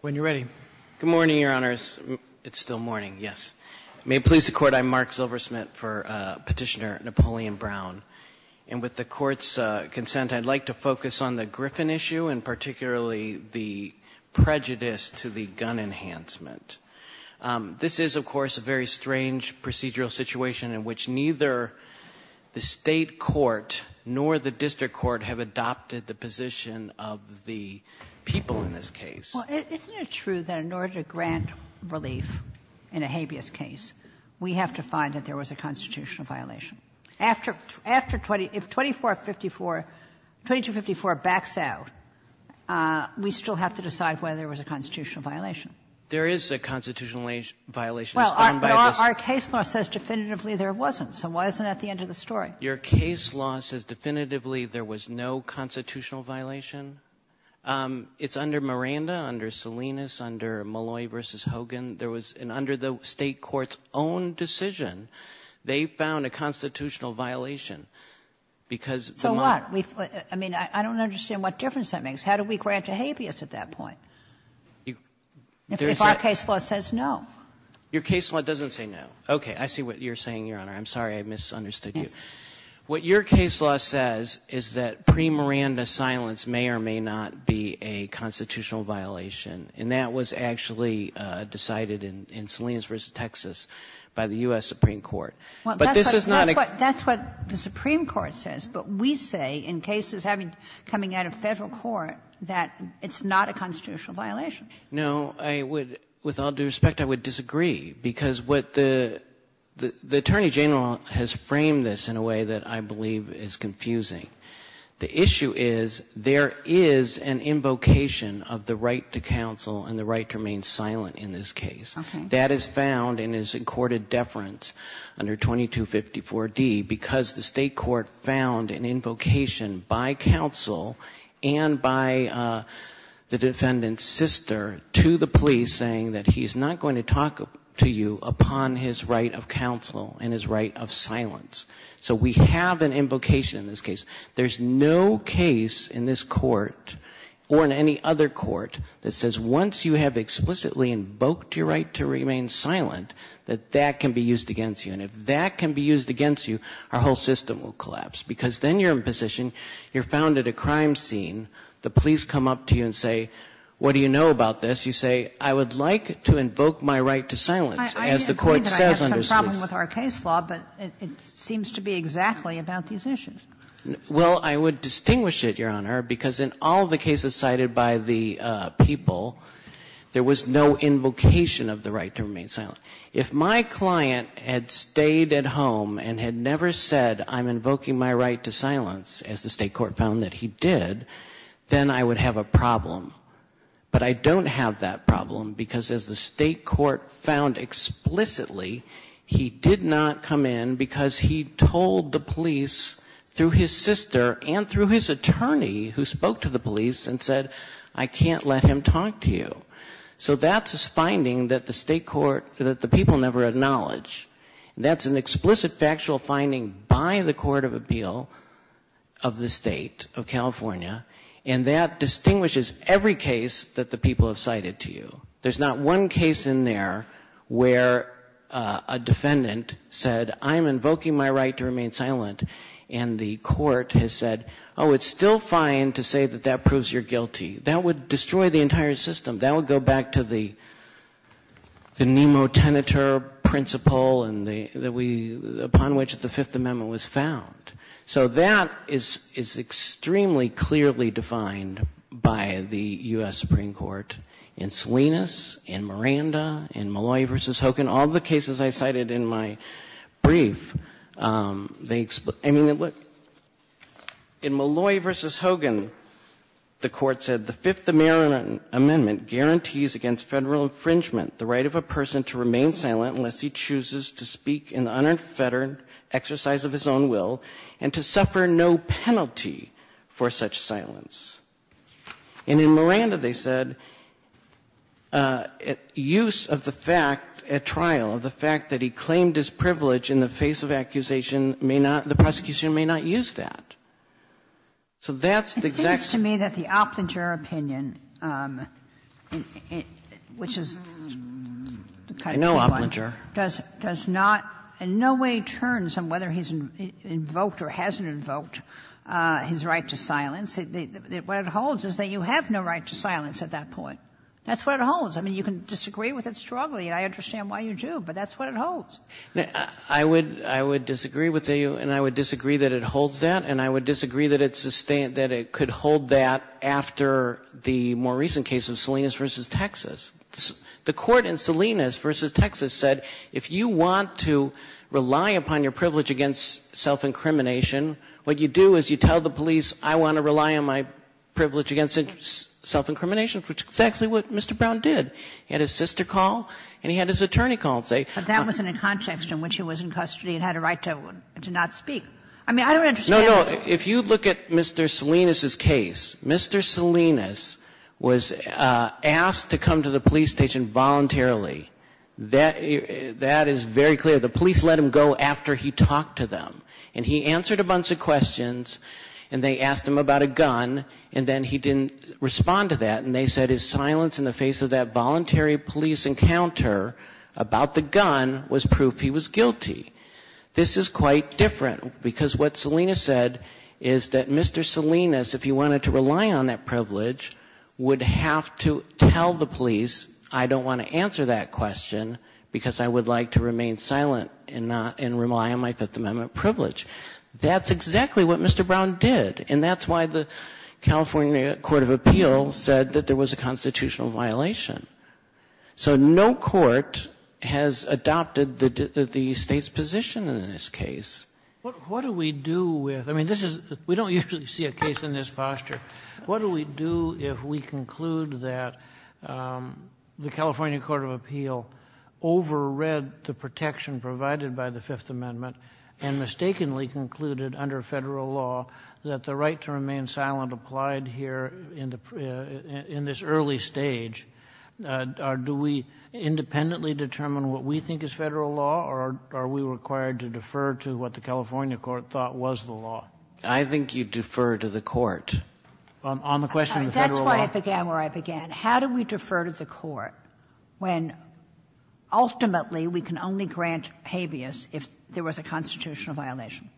when you're ready. Good morning, Your Honors. It's still morning, yes. May it please the Court, I'm Mark Zilversmith for Petitioner Napoleon Brown. And with the Court's consent, I'd like to focus on the Griffin issue, and particularly the prejudice to the gun enhancement. This is, of course, a very strange procedural situation in which neither the State Court nor the District Court have adopted the position of the people in this case. Well, isn't it true that in order to grant relief in a habeas case, we have to find that there was a constitutional violation? After 20 — if 2454 — 2254 backs out, we still have to decide whether there was a constitutional violation. There is a constitutional violation. Well, our case law says definitively there wasn't. So why isn't that the end of the story? Your case law says definitively there was no constitutional violation. It's under Miranda, under Salinas, under Malloy v. Hogan. There was an under the State Court's own decision, they found a constitutional violation because the monk — So what? I mean, I don't understand what difference that makes. How do we grant a habeas at that point? If our case law says no. Your case law doesn't say no. Okay. I see what you're saying, Your Honor. I'm sorry I misunderstood you. What your case law says is that pre-Miranda silence may or may not be a constitutional violation. And that was actually decided in Salinas v. Texas by the U.S. Supreme Court. But this is not a — That's what the Supreme Court says. But we say, in cases coming out of Federal court, that it's not a constitutional violation. No, I would — with all due respect, I would disagree. Because what the — the Attorney General has framed this in a way that I believe is confusing. The issue is, there is an invocation of the right to counsel and the right to remain silent in this case. Okay. That is found in his accorded deference under 2254D because the State Court found an invocation by counsel and by the defendant's sister to the police saying that he's not going to talk to you upon his right of counsel and his right of silence. So we have an invocation in this case. There's no case in this court or in any other court that says once you have explicitly invoked your right to remain silent, that that can be used against you. And if that can be used against you, our whole system will collapse. Because then you're in a position — you're found at a crime scene. The police come up to you and say, what do you know about this? You say, I would like to invoke my right to silence, as the Court says under ‑‑ Kagan. I agree that I have some problem with our case law, but it seems to be exactly about these issues. Well, I would distinguish it, Your Honor, because in all the cases cited by the people, there was no invocation of the right to remain silent. If my client had stayed at home and had never said, I'm invoking my right to silence, as the State Court found that he did, then I would have a problem. But I don't have that problem, because as the State Court found explicitly, he did not come in because he told the police through his sister and through his attorney, who spoke to the police, and said, I can't let him talk to you. So that's a finding that the State Court, that the people never acknowledge. That's an explicit factual finding by the Court of Appeal of the State of California. And that distinguishes every case that the people have cited to you. There's not one case in there where a defendant said, I'm invoking my right to remain silent, and the Court has said, oh, it's still fine to say that that proves you're guilty. That would destroy the entire system. That would go back to the nemotenitor principle upon which the Fifth Amendment was found. So that is extremely clearly defined by the U.S. Supreme Court. In Salinas, in Miranda, in Malloy v. Hogan, all the cases I cited in my brief, I mean, look, in Malloy v. Hogan, the Court said, the Fifth Amendment guarantees against federal infringement the right of a person to remain silent unless he chooses to speak in an unfettered exercise of his own will, and to suffer no penalty for such silence. And in Miranda, they said, use of the fact at trial, the fact that he claimed his privilege in the face of accusation, may not, the prosecution may not use that. So that's the exact same thing. It seems to me that the Oplinger opinion, which is kind of a good one, does not, in no way turns on whether he's invoked or hasn't invoked his right to silence. What it holds is that you have no right to silence at that point. That's what it holds. I mean, you can disagree with it strongly, and I understand why you do, but that's what it holds. I would disagree with you, and I would disagree that it holds that, and I would disagree that it could hold that after the more recent case of Salinas v. Texas. The Court in Salinas v. Texas said, if you want to rely upon your privilege against self-incrimination, what you do is you tell the police, I want to rely on my privilege against self-incrimination, which is exactly what Mr. Brown did. He had his sister call, and he had his attorney call and say he was in custody and had a right to not speak. I mean, I don't understand. If you look at Mr. Salinas' case, Mr. Salinas was asked to come to the police station voluntarily. That is very clear. The police let him go after he talked to them. And he answered a bunch of questions, and they asked him about a gun, and then he didn't respond to that. And they said his silence in the face of that voluntary police encounter about the gun was proof he was guilty. This is quite different, because what Salinas said is that Mr. Salinas, if he wanted to rely on that privilege, would have to tell the police, I don't want to answer that question because I would like to remain silent and rely on my Fifth Amendment privilege. That's exactly what Mr. Brown did. And that's why the California Court of Appeals said that there was a constitutional violation. So no court has adopted the State's position in this case. What do we do with, I mean, this is, we don't usually see a case in this posture. What do we do if we conclude that the California Court of Appeals overread the protection provided by the Fifth Amendment and mistakenly concluded under Federal law that the right to remain silent applied here in the, in this early stage? Do we independently determine what we think is Federal law, or are we required to defer to what the California court thought was the law? I think you defer to the court. On the question of the Federal law. That's why I began where I began. How do we defer to the court when ultimately we can only grant habeas if there was a constitutional violation?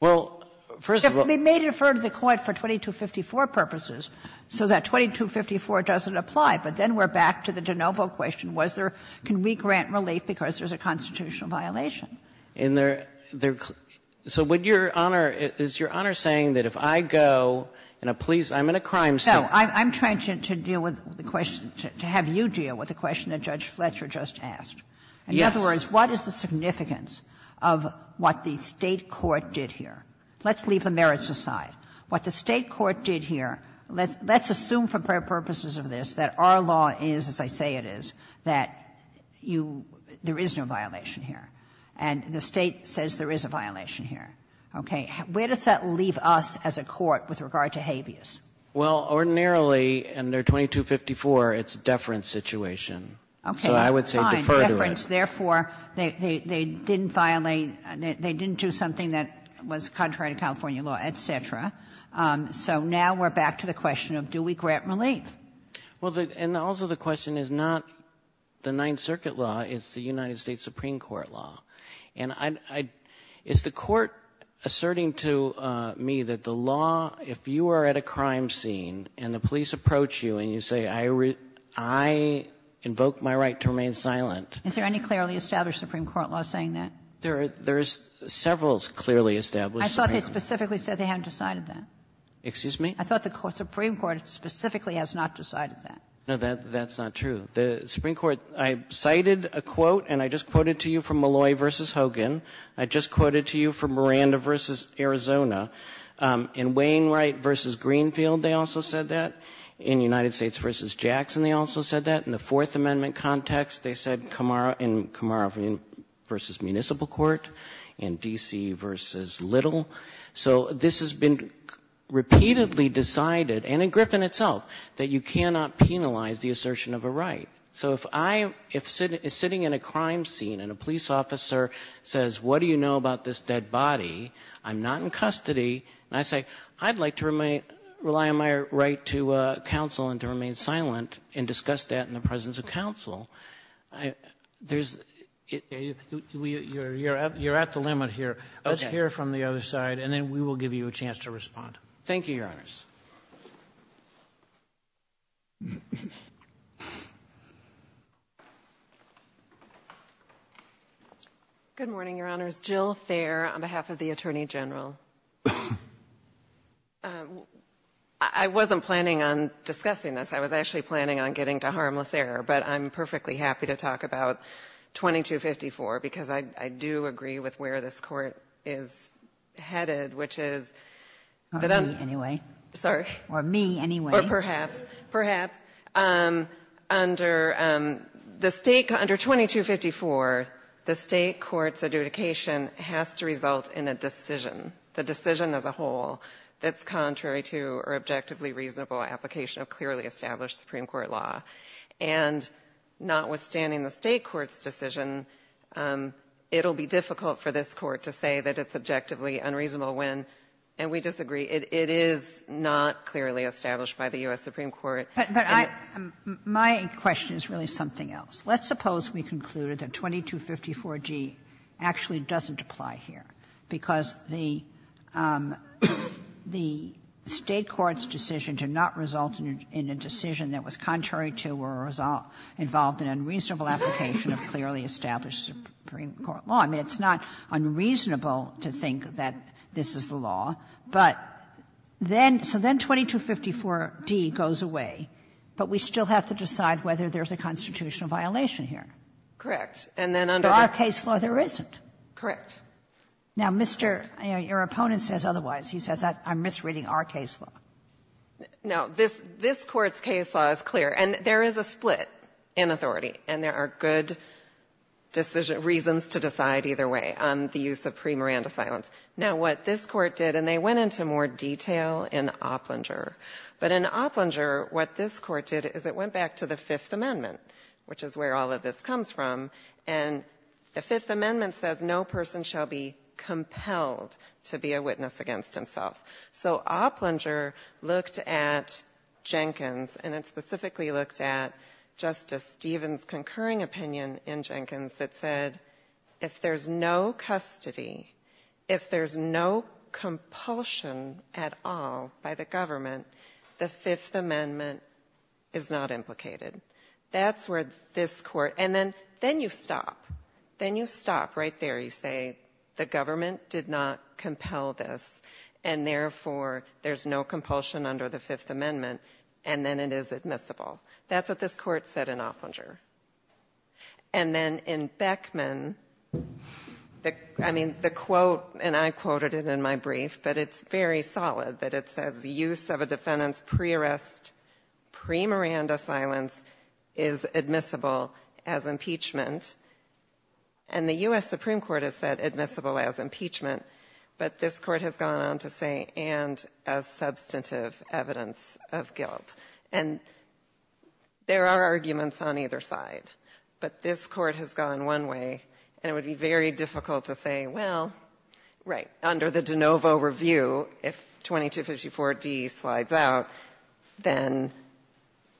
Well, first of all. We may defer to the court for 2254 purposes so that 2254 doesn't apply, but then we're back to the de novo question, was there, can we grant relief because there's a constitutional violation? In their, their, so would Your Honor, is Your Honor saying that if I go and a police, I'm in a crime scene. No, I'm trying to deal with the question, to have you deal with the question that Judge Fletcher just asked. Yes. In other words, what is the significance of what the State court did here? Let's leave the merits aside. What the State court did here, let's assume for purposes of this that our law is, as I say it is, that you, there is no violation here. And the State says there is a violation here. Okay. Where does that leave us as a court with regard to habeas? Well, ordinarily under 2254, it's a deference situation. Okay. So I would say defer to it. Therefore, they, they, they didn't violate, they, they didn't do something that was contrary to California law, et cetera. So now we're back to the question of do we grant relief? Well, the, and also the question is not the Ninth Circuit law, it's the United States Supreme Court law. And I, I, is the court asserting to me that the law, if you are at a crime scene and the police approach you and you say I, I invoke my right to remain silent. Is there any clearly established Supreme Court law saying that? There are, there is several clearly established Supreme Court laws. I thought they specifically said they haven't decided that. Excuse me? I thought the Supreme Court specifically has not decided that. No, that, that's not true. The Supreme Court, I cited a quote, and I just quoted to you from Malloy v. Hogan. I just quoted to you from Miranda v. Arizona. In Wainwright v. Greenfield, they also said that. In United States v. Jackson, they also said that. In the Fourth Amendment context, they said in Camargo v. Municipal Court, in D.C. v. Little. So this has been repeatedly decided, and in Griffin itself, that you cannot penalize the assertion of a right. So if I, if sitting in a crime scene and a police officer says what do you know about this dead body, I'm not in custody, and I say I'd like to rely on my right to counsel and to remain silent and discuss that in the presence of counsel, there's you're at the limit here. Let's hear from the other side, and then we will give you a chance to respond. Thank you, Your Honors. Good morning, Your Honors. Jill Thayer on behalf of the Attorney General. I wasn't planning on discussing this. I was actually planning on getting to harmless error, but I'm perfectly happy to talk about 2254, because I do agree with where this Court is headed, which is that I'm sorry. Or me, anyway. Or perhaps, perhaps. Under the State, under 2254, the State court's adjudication has to result in a decision. The decision as a whole that's contrary to or objectively reasonable application of clearly established Supreme Court law. And notwithstanding the State court's decision, it'll be difficult for this Court to say that it's objectively unreasonable when, and we disagree, it is not clearly established by the U.S. Supreme Court. But I, my question is really something else. Let's suppose we concluded that 2254d actually doesn't apply here, because the State court's decision to not result in a decision that was contrary to or involved in unreasonable application of clearly established Supreme Court law, I mean, it's not unreasonable to think that this is the law, but then, so then 2254d goes away, but we still have to decide whether there's a constitutional violation here. Anderson-Cooper, Jr. Correct. And then under the other case law, there isn't. Anderson-Cooper, Jr. Correct. Now, Mr. Your opponent says otherwise. He says I'm misreading our case law. Anderson-Cooper, Jr. Now, this Court's case law is clear. And there is a split in authority, and there are good decisions, reasons to decide either way on the use of pre-Miranda silence. Now, what this Court did, and they went into more detail in Opplinger, but in Opplinger, what this Court did is it went back to the Fifth Amendment, which is where all of this comes from, and the Fifth Amendment says no person shall be compelled to be a witness against himself. So Opplinger looked at Jenkins, and it specifically looked at Justice Stevens' concurring opinion in Jenkins that said if there's no custody, if there's no compulsion at all by the government, the Fifth Amendment is not implicated. That's where this Court, and then you stop. Then you stop right there. You say the government did not compel this, and therefore, there's no compulsion under the Fifth Amendment, and then it is admissible. That's what this Court said in Opplinger. And then in Beckman, I mean, the quote, and I quoted it in my brief, but it's very solid that it says use of a defendant's pre-arrest, pre-Miranda silence is admissible as impeachment, and the U.S. Supreme Court has said admissible as impeachment, but this Court has gone on to say and as substantive evidence of guilt. And there are arguments on either side, but this Court has gone one way, and it would be very difficult to say, well, right, under the DeNovo review, if 2254D slides out, then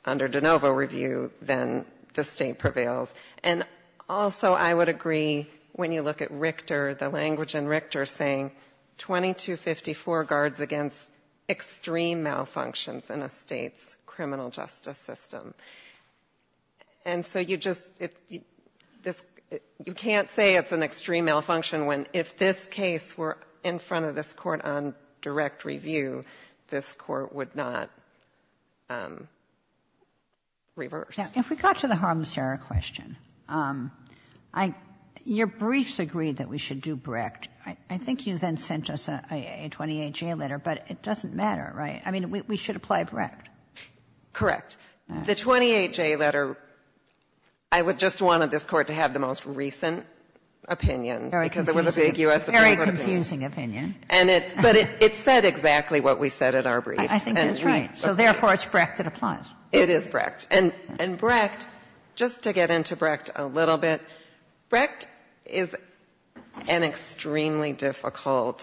under DeNovo review, then the State prevails. And also, I would agree when you look at Richter, the language in Richter saying 2254 guards against extreme malfunctions in a State's criminal justice system. And so you just you can't say it's an extreme malfunction when if this case were in front of this Court on direct review, this Court would not reverse. Ginsburg. If we got to the harm's error question, I your briefs agreed that we should do Brecht. I think you then sent us a 28-J letter, but it doesn't matter, right? I mean, we should apply Brecht. Correct. The 28-J letter, I would just want this Court to have the most recent opinion, because it was a big U.S. opinion. Very confusing opinion. And it, but it said exactly what we said in our briefs. I think it's right. So therefore, it's Brecht that applies. It is Brecht. And Brecht, just to get into Brecht a little bit, Brecht is an extremely difficult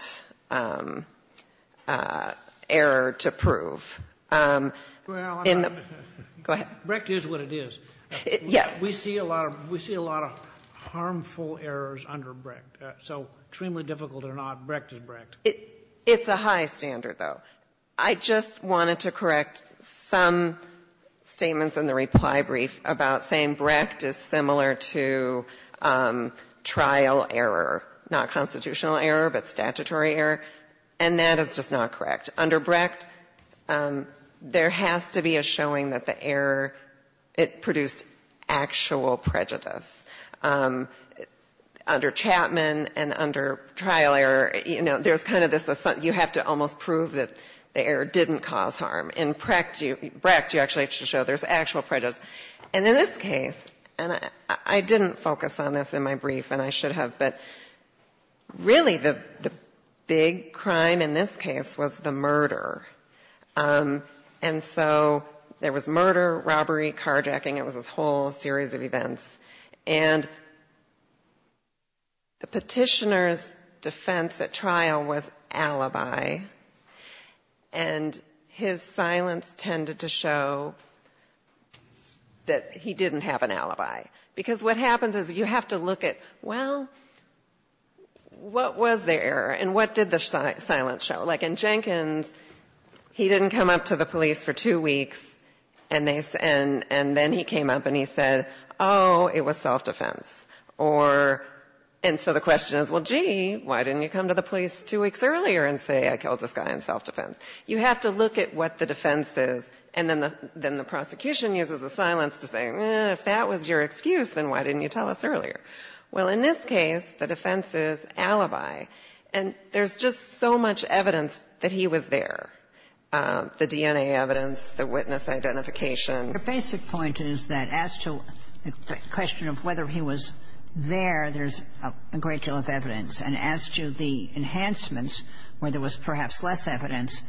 error to prove. Go ahead. Brecht is what it is. Yes. We see a lot of harmful errors under Brecht. So extremely difficult or not, Brecht is Brecht. It's a high standard, though. I just wanted to correct some statements in the reply brief about saying Brecht is similar to trial error, not constitutional error, but statutory error. And that is just not correct. Under Brecht, there has to be a showing that the error, it produced actual prejudice. Under Chapman and under trial error, you know, there's kind of this, you have to almost prove that the error didn't cause harm. In Brecht, you actually have to show there's actual prejudice. And in this case, and I didn't focus on this in my brief, and I should have, but really the big crime in this case was the murder. And so there was murder, robbery, carjacking, it was this whole series of events. And the petitioner's defense at trial was alibi. And his silence tended to show that he didn't have an alibi. Because what happens is you have to look at, well, what was the error and what did the silence show? Like in Jenkins, he didn't come up to the police for two weeks, and then he came up and he said, oh, it was self-defense. Or, and so the question is, well, gee, why didn't you come to the police two weeks earlier and say, I killed this guy in self-defense? You have to look at what the defense is, and then the prosecution uses the silence to say, if that was your excuse, then why didn't you tell us earlier? Well, in this case, the defense is alibi. And there's just so much evidence that he was there, the DNA evidence, the witness identification. The basic point is that as to the question of whether he was there, there's a great deal of evidence. And as to the enhancements, where there was perhaps less evidence,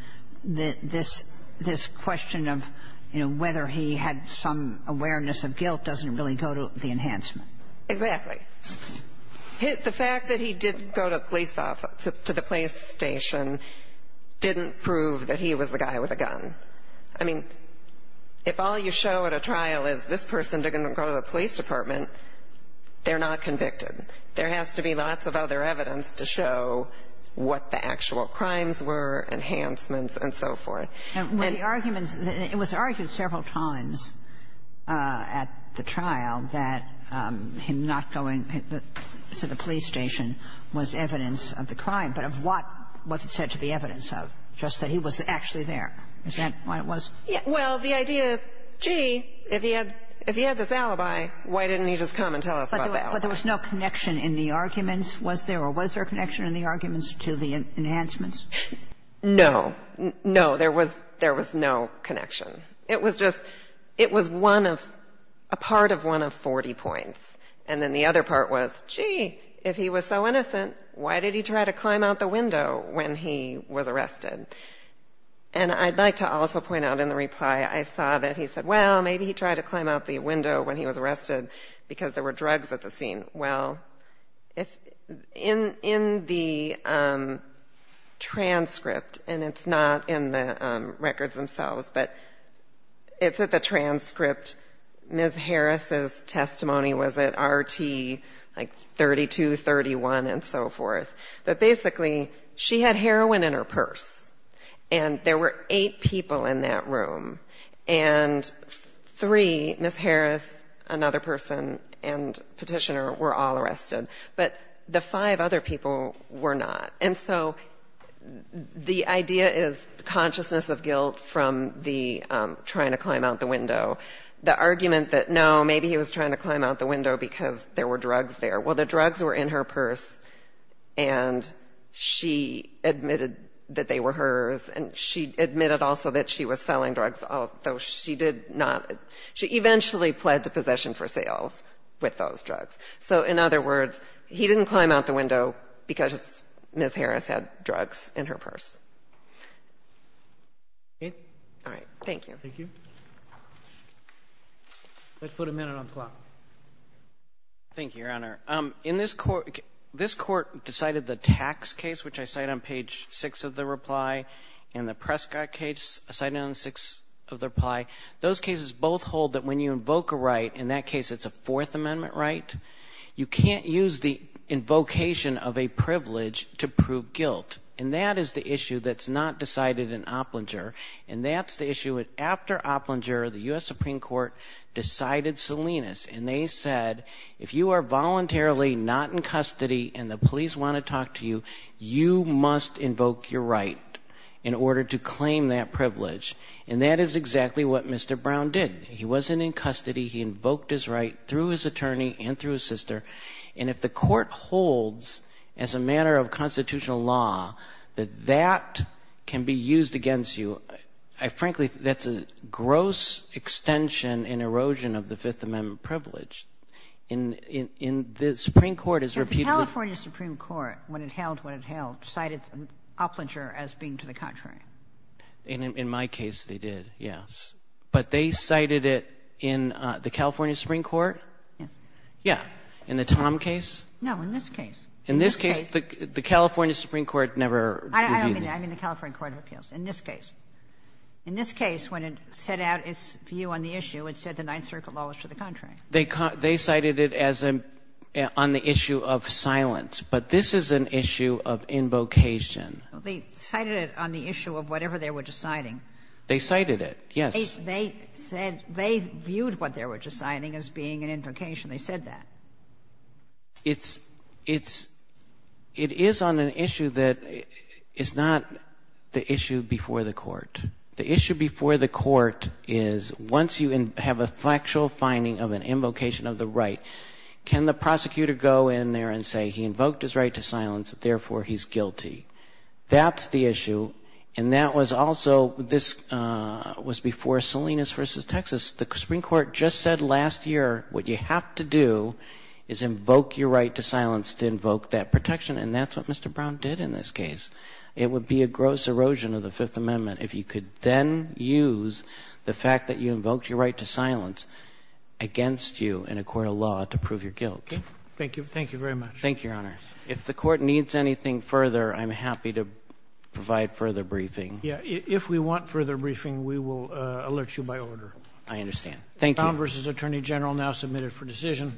this question of whether he had some awareness of guilt doesn't really go to the enhancement. Exactly. The fact that he didn't go to the police station didn't prove that he was the guy with a gun. I mean, if all you show at a trial is this person didn't go to the police department, they're not convicted. There has to be lots of other evidence to show what the actual crimes were, enhancements, and so forth. And the arguments, it was argued several times at the trial that him not going to the police station was evidence of the crime, but of what was it said to be evidence of, just that he was actually there? Is that what it was? Well, the idea is, gee, if he had this alibi, why didn't he just come and tell us about the alibi? But there was no connection in the arguments, was there? Or was there a connection in the arguments to the enhancements? No. No, there was no connection. It was just, it was one of, a part of one of 40 points. And then the other part was, gee, if he was so innocent, why did he try to climb out the window when he was arrested? And I'd like to also point out in the reply, I saw that he said, well, maybe he tried to climb out the window when he was arrested because there were drugs at the scene. Well, in the transcript, and it's not in the records themselves, but it's at the transcript, Ms. Harris's testimony was at RT, like 32, 31, and so forth. But basically, she had heroin in her purse. And there were eight people in that room. And three, Ms. Harris, another person, and Petitioner were all arrested. But the five other people were not. And so the idea is consciousness of guilt from the trying to climb out the window. The argument that, no, maybe he was trying to climb out the window because there were drugs there. Well, the drugs were in her purse, and she admitted that they were hers. And she admitted also that she was selling drugs, although she did not – she eventually pled to possession for sales with those drugs. So in other words, he didn't climb out the window because Ms. Harris had drugs in her purse. All right. Thank you. Roberts. Thank you. Let's put a minute on the clock. Thank you, Your Honor. In this court – this Court decided the tax case, which I cite on page 6 of the reply, and the Prescott case, cited on page 6 of the reply. Those cases both hold that when you invoke a right, in that case it's a Fourth Amendment right. You can't use the invocation of a privilege to prove guilt. And that is the issue that's not decided in Opplinger. And that's the issue that after Opplinger, the U.S. Supreme Court decided Salinas. And they said, if you are voluntarily not in custody and the police want to talk to you, you must invoke your right in order to claim that privilege. And that is exactly what Mr. Brown did. He wasn't in custody. He invoked his right through his attorney and through his sister. And if the Court holds as a matter of constitutional law that that can be used against you, I frankly – that's a gross extension and erosion of the Fifth Amendment privilege. And the Supreme Court has repeatedly – when it held what it held – cited Opplinger as being to the contrary. And in my case, they did, yes. But they cited it in the California Supreme Court? Yes. Yeah. In the Tom case? No, in this case. In this case, the California Supreme Court never reviewed it. I don't mean that. I mean the California Court of Appeals. In this case. In this case, when it set out its view on the issue, it said the Ninth Circuit law was to the contrary. They cited it as a – on the issue of silence. But this is an issue of invocation. They cited it on the issue of whatever they were deciding. They cited it, yes. They said they viewed what they were deciding as being an invocation. They said that. It's – it's – it is on an issue that is not the issue before the Court. The issue before the Court is once you have a factual finding of an invocation of the right, can the prosecutor go in there and say he invoked his right to silence, therefore he's guilty? That's the issue. And that was also – this was before Salinas v. Texas. The Supreme Court just said last year what you have to do is invoke your right to silence to invoke that protection. And that's what Mr. Brown did in this case. It would be a gross erosion of the Fifth Amendment if you could then use the fact that you invoked your right to silence against you in a court of law to prove your guilt. Okay. Thank you. Thank you very much. Thank you, Your Honor. If the Court needs anything further, I'm happy to provide further briefing. Yeah. If we want further briefing, we will alert you by order. I understand. Thank you. Brown v. Attorney General now submitted for decision.